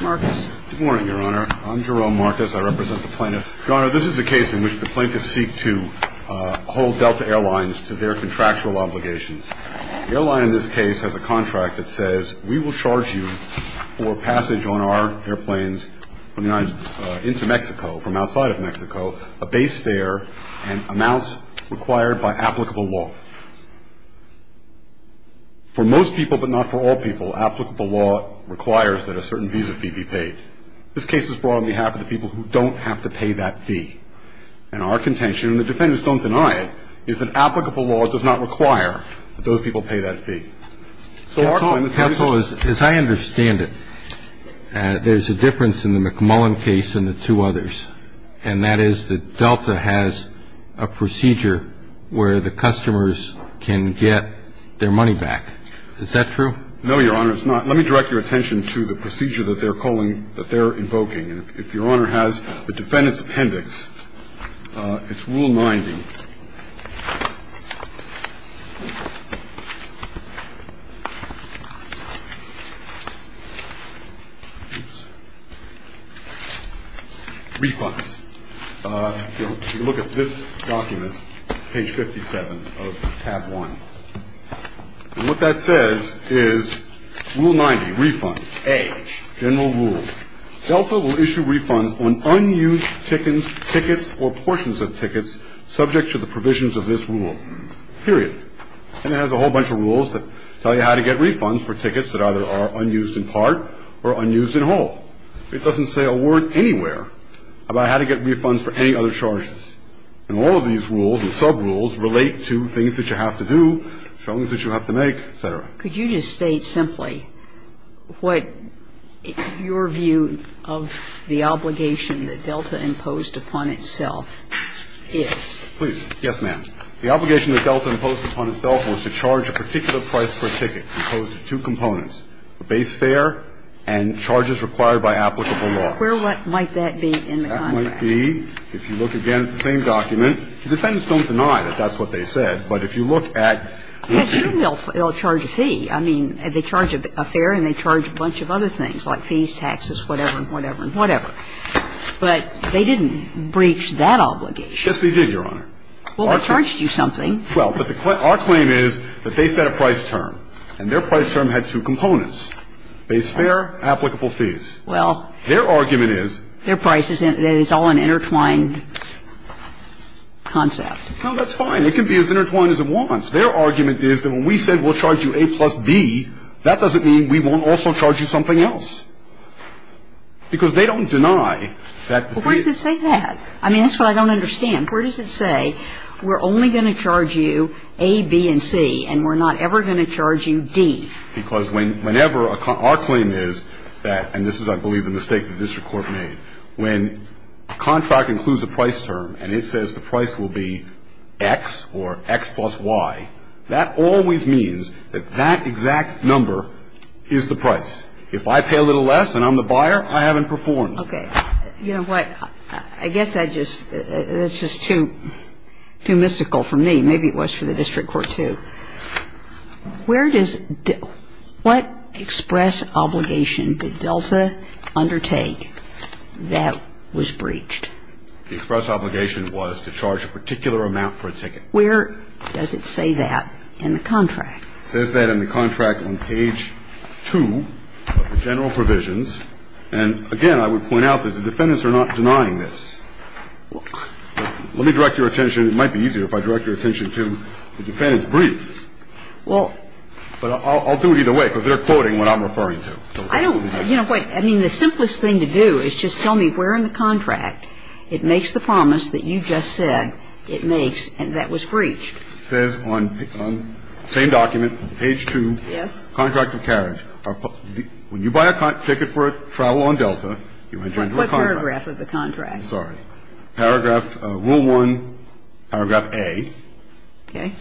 Good morning, Your Honor. I'm Jerome Marcus. I represent the plaintiff. Your Honor, this is a case in which the plaintiffs seek to hold Delta Air Lines to their contractual obligations. The airline in this case has a contract that says, we will charge you for passage on our airplanes into Mexico, from outside of Mexico, a base fare and amounts required by applicable law. For most people, but not for all people, applicable law requires that a certain visa fee be paid. This case is brought on behalf of the people who don't have to pay that fee. And our contention, and the defendants don't deny it, is that applicable law does not require that those people pay that fee. So our claim is that visa fee... Counsel, as I understand it, there's a difference in the McMullen case and the two others, and that is that Delta has a procedure where the customers can get their money back. Is that true? No, Your Honor, it's not. Let me direct your attention to the procedure that they're calling, that they're invoking. And if Your Honor has the defendant's appendix, it's Rule 90. Refunds. If you look at this document, page 57 of Tab 1, what that says is Rule 90, Refund A, General Rule. Delta will issue refunds on unused tickets or portions of tickets subject to the provisions of this rule, period. And it has a whole bunch of rules that tell you how to get refunds for tickets that either are unused in part or unused in whole. It doesn't say a word anywhere about how to get refunds for any other charges. And all of these rules and subrules relate to things that you have to do, things that you have to make, et cetera. Could you just state simply what your view of the obligation that Delta imposed upon itself is? Please. Yes, ma'am. The obligation that Delta imposed upon itself was to charge a particular price for a ticket composed of two components, a base fare and charges required by applicable law. Where might that be in the contract? That might be, if you look again at the same document, the defendants don't deny that that's what they said. But if you look at what they said. Well, sure, they'll charge a fee. I mean, they charge a fare and they charge a bunch of other things, like fees, taxes, whatever and whatever and whatever. But they didn't breach that obligation. Yes, they did, Your Honor. Well, they charged you something. Well, but our claim is that they set a price term, and their price term had two components, base fare, applicable fees. Well. Their argument is. Their price is all an intertwined concept. No, that's fine. It can be as intertwined as it wants. Their argument is that when we said we'll charge you A plus B, that doesn't mean we won't also charge you something else. Because they don't deny that the fee. Well, where does it say that? I mean, that's what I don't understand. Where does it say we're only going to charge you A, B and C, and we're not ever going to charge you D? Because whenever a con – our claim is that, and this is, I believe, the mistake the district court made, when a contract includes a price term and it says the price will be X or X plus Y, that always means that that exact number is the price. If I pay a little less and I'm the buyer, I haven't performed. Okay. You know what? I guess that just – that's just too mystical for me. Maybe it was for the district court, too. Where does – what express obligation did Delta undertake that was breached? The express obligation was to charge a particular amount for a ticket. Where does it say that in the contract? It says that in the contract on page 2 of the general provisions. And again, I would point out that the defendants are not denying this. Let me direct your attention – it might be easier if I direct your attention to the defendants' briefs. Well – But I'll do it either way because they're quoting what I'm referring to. I don't – you know what? I mean, the simplest thing to do is just tell me where in the contract it makes the promise that you just said it makes and that was breached. It says on the same document, page 2. Yes. Contract of carriage. When you buy a ticket for travel on Delta, you enter into a contract. What paragraph of the contract? Sorry. Paragraph – rule 1, paragraph A. Okay. It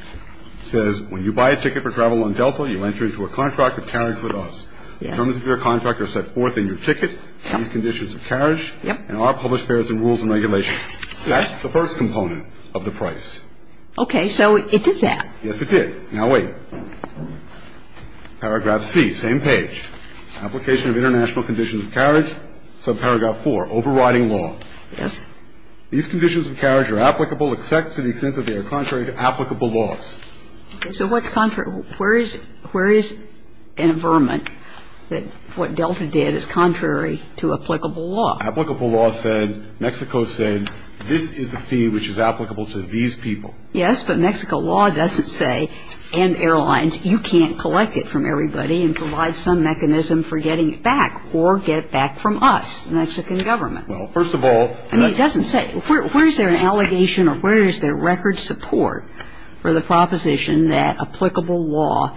says when you buy a ticket for travel on Delta, you enter into a contract of carriage with us. Yes. Terms of your contract are set forth in your ticket. Yes. Conditions of carriage. Yes. And our published fares and rules and regulations. Yes. That's the first component of the price. Okay. So it did that. Yes, it did. Now wait. Paragraph C, same page. Application of international conditions of carriage, subparagraph 4, overriding law. Yes. These conditions of carriage are applicable except to the extent that they are contrary to applicable laws. So what's contrary? Where is an affirmant that what Delta did is contrary to applicable law? Applicable law said, Mexico said, this is a fee which is applicable to these people. Yes, but Mexico law doesn't say, and airlines, you can't collect it from everybody and provide some mechanism for getting it back or get it back from us, the Mexican government. Well, first of all. I mean, it doesn't say. Where is there an allegation or where is there record support for the proposition that applicable law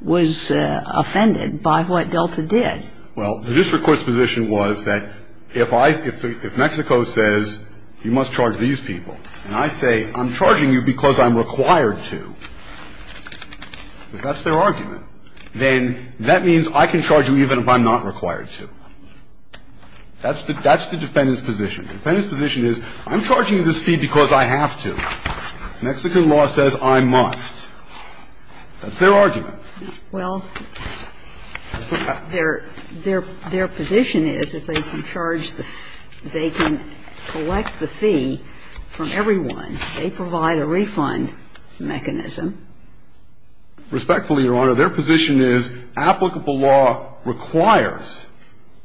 was offended by what Delta did? Well, the district court's position was that if Mexico says, you must charge these people, and I say, I'm charging you because I'm required to, if that's their argument, then that means I can charge you even if I'm not required to. That's the defendant's position. The defendant's position is, I'm charging this fee because I have to. Mexican law says I must. That's their argument. Well, their position is if they can charge the fee, they can collect the fee from everyone. They provide a refund mechanism. Respectfully, Your Honor, their position is applicable law requires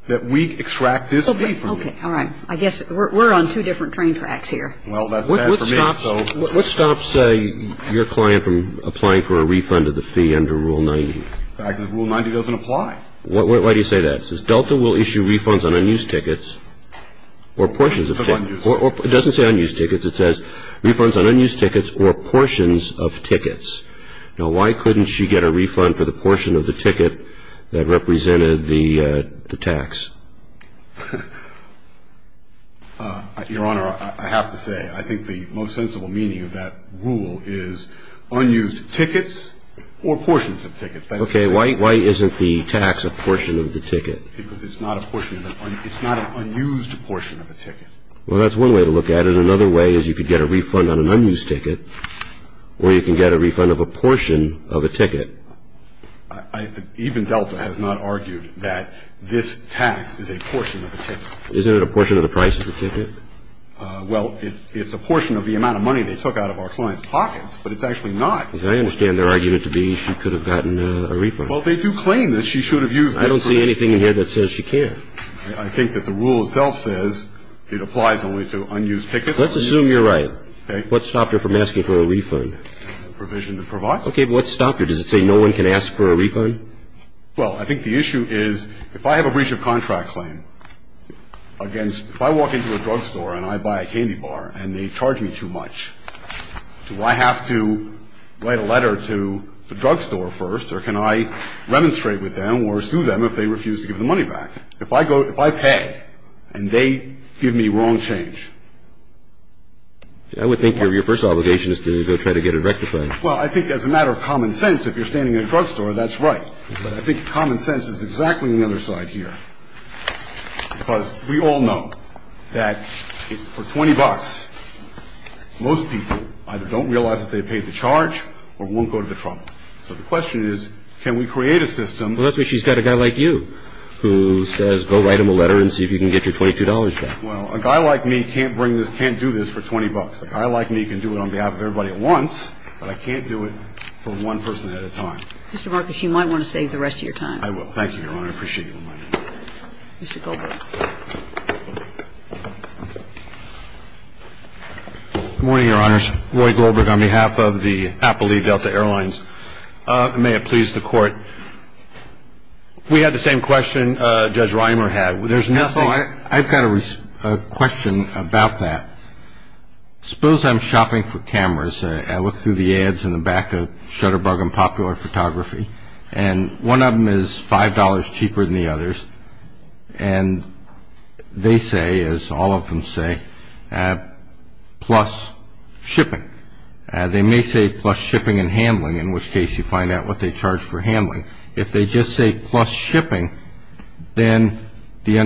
that we extract this fee from them. Okay. All right. I guess we're on two different train tracks here. Well, that's bad for me. What stops your client from applying for a refund of the fee under Rule 90? Rule 90 doesn't apply. Why do you say that? It says Delta will issue refunds on unused tickets or portions of tickets. It doesn't say unused tickets. It says refunds on unused tickets or portions of tickets. Now, why couldn't she get a refund for the portion of the ticket that represented the tax? Your Honor, I have to say, I think the most sensible meaning of that rule is unused tickets or portions of tickets. Okay. Why isn't the tax a portion of the ticket? Because it's not an unused portion of a ticket. Well, that's one way to look at it. But another way is you could get a refund on an unused ticket or you can get a refund of a portion of a ticket. Even Delta has not argued that this tax is a portion of a ticket. Isn't it a portion of the price of the ticket? Well, it's a portion of the amount of money they took out of our client's pockets, but it's actually not. Because I understand their argument to be she could have gotten a refund. Well, they do claim that she should have used it. I don't see anything in here that says she can't. I think that the rule itself says it applies only to unused tickets. Let's assume you're right. Okay. What stopped her from asking for a refund? The provision that provides it. Okay. But what stopped her? Does it say no one can ask for a refund? Well, I think the issue is if I have a breach of contract claim against if I walk into a drugstore and I buy a candy bar and they charge me too much, do I have to write a letter to the drugstore first or can I remonstrate with them or sue them if they refuse to give the money back? If I pay and they give me wrong change. I would think your first obligation is to go try to get it rectified. Well, I think as a matter of common sense, if you're standing in a drugstore, that's right. But I think common sense is exactly on the other side here. Because we all know that for 20 bucks, most people either don't realize that they paid the charge or won't go to the trouble. So the question is, can we create a system? Well, that's why she's got a guy like you who says go write him a letter and see if you can get your $22 back. Well, a guy like me can't bring this, can't do this for 20 bucks. A guy like me can do it on behalf of everybody at once. But I can't do it for one person at a time. Mr. Marcus, you might want to save the rest of your time. I will. Thank you, Your Honor. I appreciate you reminding me. Mr. Goldberg. Good morning, Your Honors. Roy Goldberg on behalf of the Applebee Delta Airlines. May it please the Court. We had the same question Judge Reimer had. I've got a question about that. Suppose I'm shopping for cameras. I look through the ads in the back of Shutterbug and Popular Photography, and one of them is $5 cheaper than the others. And they say, as all of them say, plus shipping. They may say plus shipping and handling, in which case you find out what they charge for handling. If they just say plus shipping, then the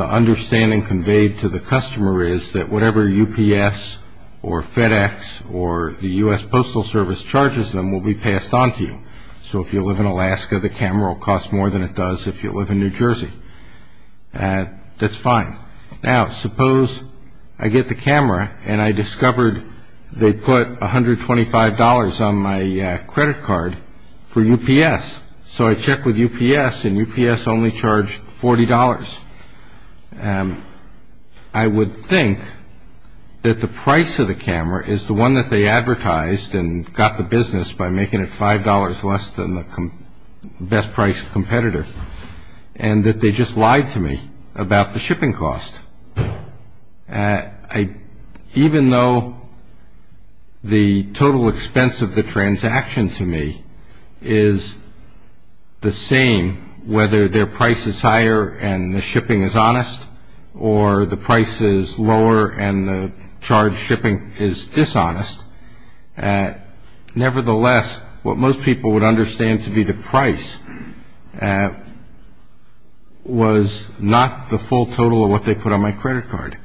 understanding conveyed to the customer is that whatever UPS or FedEx or the U.S. Postal Service charges them will be passed on to you. So if you live in Alaska, the camera will cost more than it does if you live in New Jersey. That's fine. Now, suppose I get the camera and I discovered they put $125 on my credit card for UPS. So I check with UPS, and UPS only charged $40. I would think that the price of the camera is the one that they advertised and got the business by making it $5 less than the best-priced competitor and that they just lied to me about the shipping cost. Even though the total expense of the transaction to me is the same, whether their price is higher and the shipping is honest or the price is lower and the charged shipping is dishonest, nevertheless, what most people would understand to be the price was not the full total of what they put on my credit card.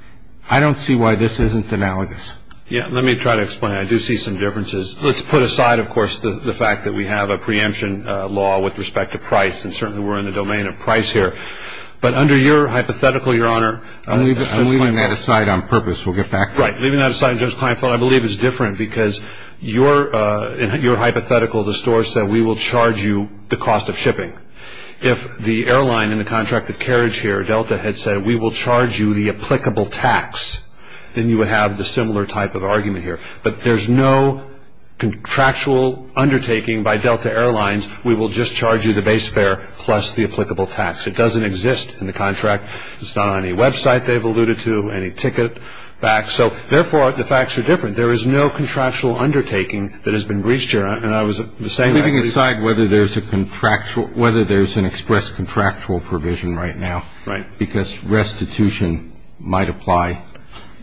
I don't see why this isn't analogous. Let me try to explain. I do see some differences. Let's put aside, of course, the fact that we have a preemption law with respect to price, and certainly we're in the domain of price here. But under your hypothetical, Your Honor, We'll get back to that. Right. Because in your hypothetical, the store said, We will charge you the cost of shipping. If the airline in the contract of carriage here, Delta, had said, We will charge you the applicable tax, then you would have the similar type of argument here. But there's no contractual undertaking by Delta Airlines. We will just charge you the base fare plus the applicable tax. It doesn't exist in the contract. It's not on any website they've alluded to, any ticket back. So, therefore, the facts are different. There is no contractual undertaking that has been breached, Your Honor. And I was the same way. I'm leaving aside whether there's an express contractual provision right now. Right. Because restitution might apply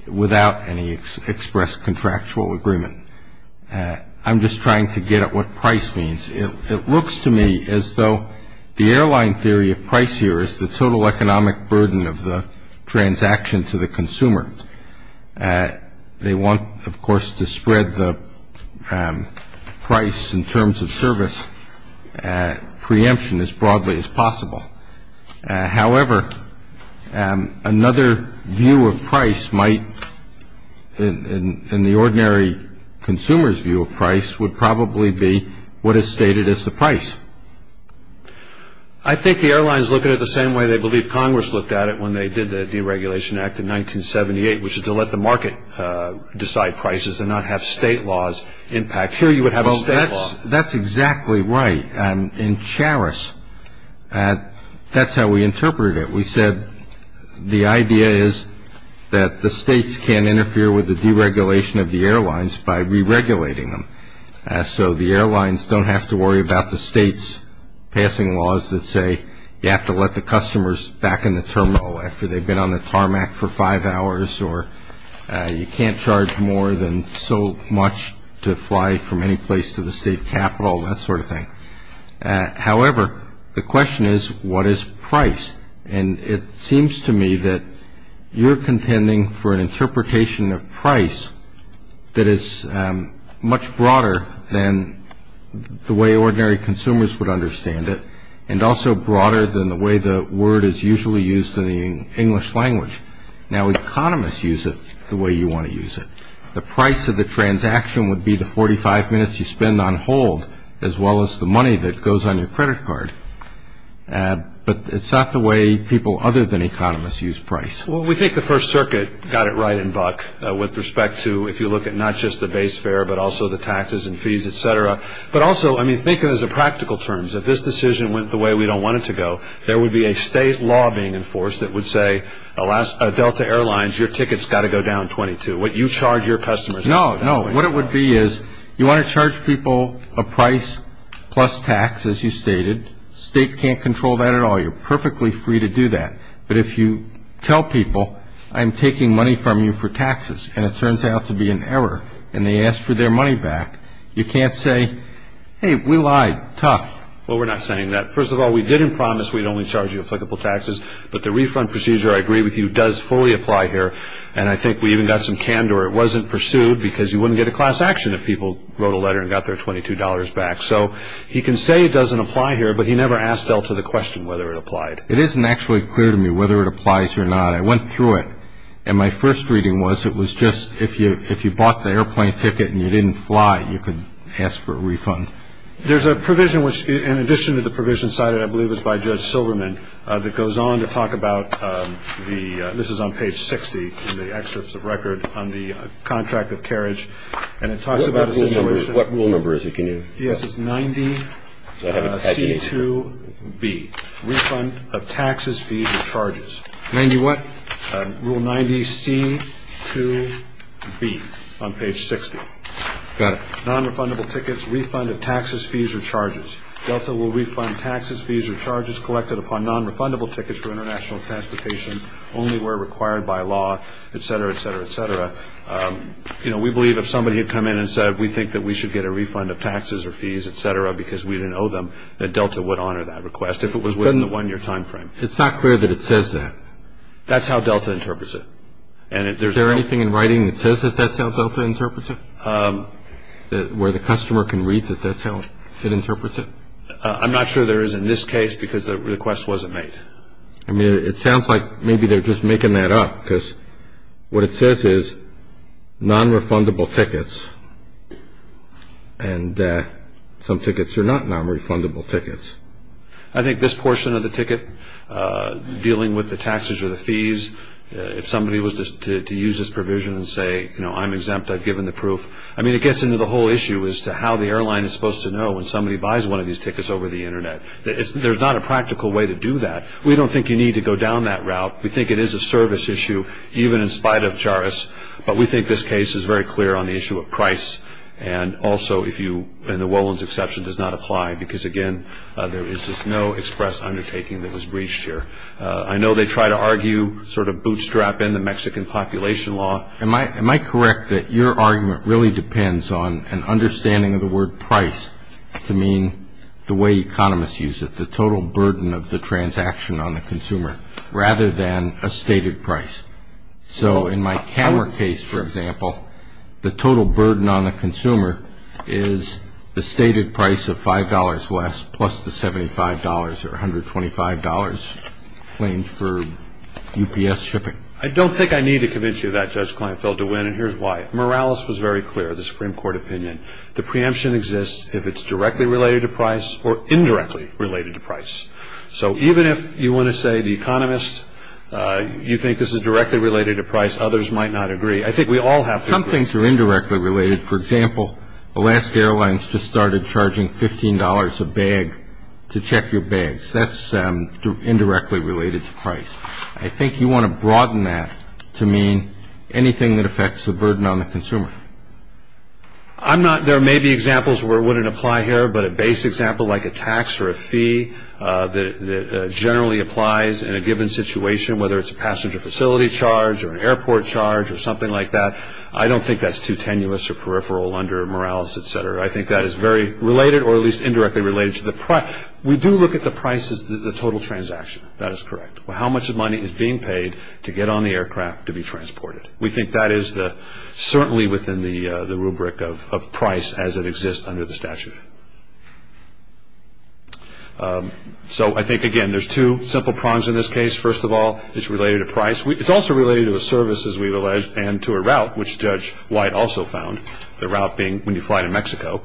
without any express contractual agreement. I'm just trying to get at what price means. It looks to me as though the airline theory of price here is the total economic burden of the transaction to the consumer. They want, of course, to spread the price in terms of service preemption as broadly as possible. However, another view of price might, in the ordinary consumer's view of price, would probably be what is stated as the price. I think the airlines look at it the same way they believe Congress looked at it when they did the Deregulation Act in 1978, which is to let the market decide prices and not have state laws impact. Here you would have a state law. That's exactly right. In Charis, that's how we interpreted it. We said the idea is that the states can interfere with the deregulation of the airlines by re-regulating them, so the airlines don't have to worry about the states passing laws that say you have to let the customers back in the terminal after they've been on the tarmac for five hours, or you can't charge more than so much to fly from any place to the state capitol, that sort of thing. However, the question is, what is price? And it seems to me that you're contending for an interpretation of price that is much broader than the way ordinary consumers would understand it, and also broader than the way the word is usually used in the English language. Now, economists use it the way you want to use it. The price of the transaction would be the 45 minutes you spend on hold, as well as the money that goes on your credit card. But it's not the way people other than economists use price. Well, we think the First Circuit got it right in Buck with respect to if you look at not just the base fare, but also the taxes and fees, et cetera. But also, I mean, think of it as a practical terms. If this decision went the way we don't want it to go, there would be a state law being enforced that would say, Delta Airlines, your ticket's got to go down 22, what you charge your customers. No, no. What it would be is you want to charge people a price plus tax, as you stated. State can't control that at all. You're perfectly free to do that. But if you tell people, I'm taking money from you for taxes, and it turns out to be an error, and they ask for their money back, you can't say, hey, we lied. Tough. Well, we're not saying that. First of all, we didn't promise we'd only charge you applicable taxes. But the refund procedure, I agree with you, does fully apply here. And I think we even got some candor it wasn't pursued because you wouldn't get a class action if people wrote a letter and got their $22 back. So he can say it doesn't apply here, but he never asked Delta the question whether it applied. It isn't actually clear to me whether it applies or not. I went through it, and my first reading was it was just if you bought the airplane ticket and you didn't fly, you could ask for a refund. There's a provision which, in addition to the provision cited, I believe it was by Judge Silverman, that goes on to talk about the ‑‑ this is on page 60 in the excerpts of record on the contract of carriage. And it talks about a situation ‑‑ What rule number is it? Yes, it's 90C2B, refund of taxes, fees, and charges. 90 what? Rule 90C2B on page 60. Got it. Nonrefundable tickets, refund of taxes, fees, or charges. Delta will refund taxes, fees, or charges collected upon nonrefundable tickets for international transportation only where required by law, etc., etc., etc. You know, we believe if somebody had come in and said we think that we should get a refund of taxes or fees, etc., because we didn't owe them, that Delta would honor that request if it was within the one‑year time frame. It's not clear that it says that. That's how Delta interprets it. Is there anything in writing that says that that's how Delta interprets it? Where the customer can read that that's how it interprets it? I'm not sure there is in this case because the request wasn't made. I mean, it sounds like maybe they're just making that up because what it says is nonrefundable tickets, and some tickets are not nonrefundable tickets. I think this portion of the ticket dealing with the taxes or the fees, if somebody was to use this provision and say, you know, I'm exempt. I've given the proof. I mean, it gets into the whole issue as to how the airline is supposed to know when somebody buys one of these tickets over the Internet. There's not a practical way to do that. We don't think you need to go down that route. We think it is a service issue even in spite of Charus, but we think this case is very clear on the issue of price. And also, if you, and the Wolins exception does not apply because, again, there is just no express undertaking that was breached here. I know they try to argue, sort of bootstrap in the Mexican population law. Am I correct that your argument really depends on an understanding of the word price to mean the way economists use it, the total burden of the transaction on the consumer, rather than a stated price? So in my camera case, for example, the total burden on the consumer is the stated price of $5 less plus the $75 or $125 claimed for UPS shipping. I don't think I need to convince you of that, Judge Kleinfeld, to win, and here's why. Morales was very clear, the Supreme Court opinion. The preemption exists if it's directly related to price or indirectly related to price. So even if you want to say the economist, you think this is directly related to price, others might not agree. I think we all have different views. Some things are indirectly related. For example, Alaska Airlines just started charging $15 a bag to check your bags. That's indirectly related to price. I think you want to broaden that to mean anything that affects the burden on the consumer. I'm not, there may be examples where it wouldn't apply here, but a basic example like a tax or a fee that generally applies in a given situation, whether it's a passenger facility charge or an airport charge or something like that, I don't think that's too tenuous or peripheral under Morales, et cetera. I think that is very related or at least indirectly related to the price. We do look at the price as the total transaction. That is correct. How much money is being paid to get on the aircraft to be transported? We think that is certainly within the rubric of price as it exists under the statute. So I think, again, there's two simple prongs in this case. First of all, it's related to price. It's also related to a service, as we've alleged, and to a route, which Judge White also found, the route being when you fly to Mexico,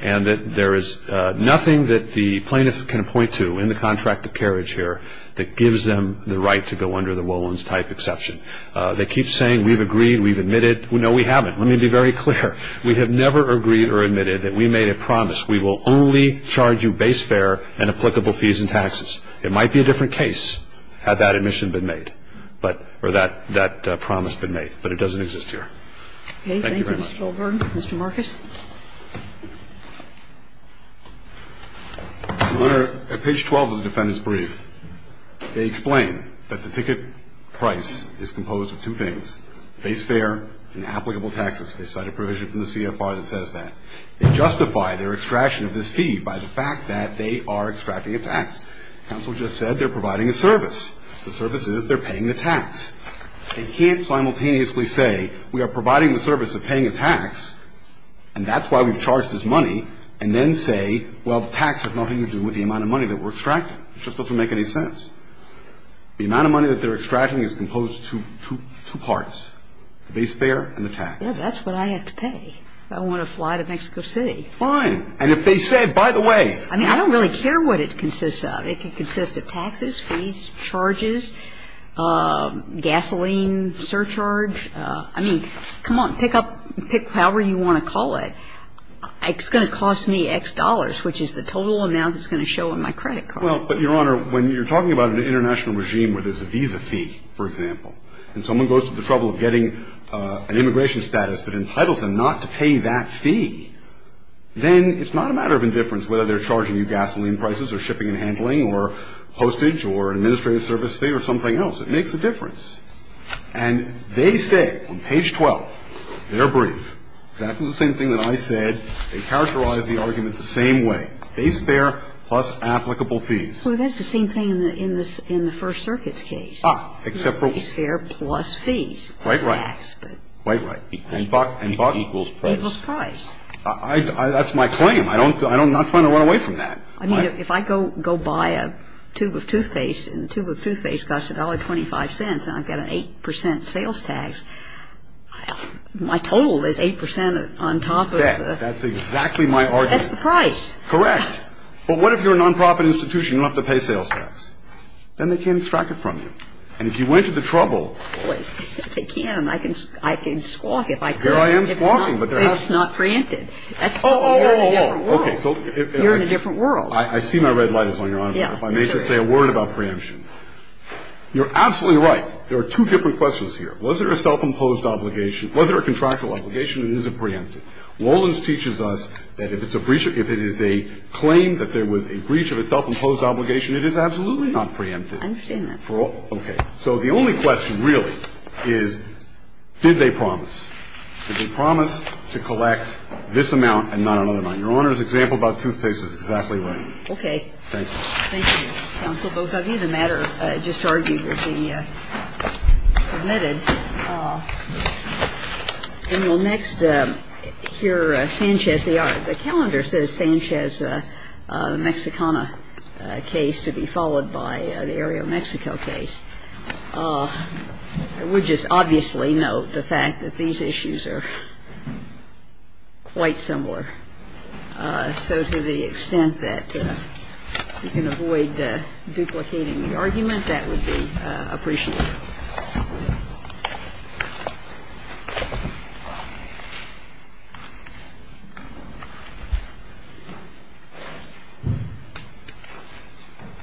and that there is nothing that the plaintiff can point to in the contract of carriage here that gives them the right to go under the Wolins-type exception. They keep saying we've agreed, we've admitted. No, we haven't. Let me be very clear. We have never agreed or admitted that we made a promise, we will only charge you base fare and applicable fees and taxes. It might be a different case had that admission been made, or that promise been made, but it doesn't exist here. Thank you very much. Okay. Thank you, Mr. Goldberg. Mr. Marcus. Your Honor, at page 12 of the defendant's brief, they explain that the ticket price is composed of two things, base fare and applicable taxes. They cite a provision from the CFR that says that. They justify their extraction of this fee by the fact that they are extracting a tax. Counsel just said they're providing a service. The service is they're paying the tax. They can't simultaneously say we are providing the service of paying a tax, and that's why we've charged this money, and then say, well, the tax has nothing to do with the amount of money that we're extracting. It just doesn't make any sense. The amount of money that they're extracting is composed of two parts, the base fare and the tax. Well, that's what I have to pay if I want to fly to Mexico City. Fine. And if they say, by the way. I mean, I don't really care what it consists of. It can consist of taxes, fees, charges, gasoline, surcharge. I mean, come on, pick up however you want to call it. It's going to cost me X dollars, which is the total amount that's going to show in my credit card. Well, but, Your Honor, when you're talking about an international regime where there's a visa fee, for example, and someone goes to the trouble of getting an immigration status that entitles them not to pay that fee, then it's not a matter of indifference whether they're charging you gasoline prices or shipping and handling or hostage or administrative service fee or something else. It makes a difference. And they say on page 12, their brief, exactly the same thing that I said. They characterize the argument the same way, base fare plus applicable fees. Well, that's the same thing in the First Circuit's case. Ah, except for what? Base fare plus fees. Right, right. Right, right. And buck equals price. Equals price. That's my claim. I'm not trying to run away from that. I mean, if I go buy a tube of Toothpaste and the tube of Toothpaste costs $1.25 and I've got an 8% sales tax, my total is 8% on top of the. That. That's exactly my argument. That's the price. Correct. But what if you're a nonprofit institution and you don't have to pay sales tax? Then they can't extract it from you. And if you went to the trouble. They can. I can squawk if I could. There I am squawking. It's not preempted. Oh, oh, oh, oh. You're in a different world. I see my red light is on, Your Honor. Yeah. If I may just say a word about preemption. You're absolutely right. There are two different questions here. Was there a self-imposed obligation? Was there a contractual obligation? And is it preempted? Walden's teaches us that if it's a breach, if it is a claim that there was a breach of a self-imposed obligation, it is absolutely not preempted. I understand that. Okay. So the only question, really, is did they promise? Did they promise to collect this amount and not another amount? Your Honor's example about toothpaste is exactly right. Okay. Thank you. Thank you, counsel, both of you. The matter just argued will be submitted. And you'll next hear Sanchez. Just in case you're wondering, the calendar says they are. The calendar says Sanchez is a Mexicana case to be followed by the area of Mexico case. I would just obviously note the fact that these issues are quite similar. So to the extent that you can avoid duplicating the argument, that would be appreciated.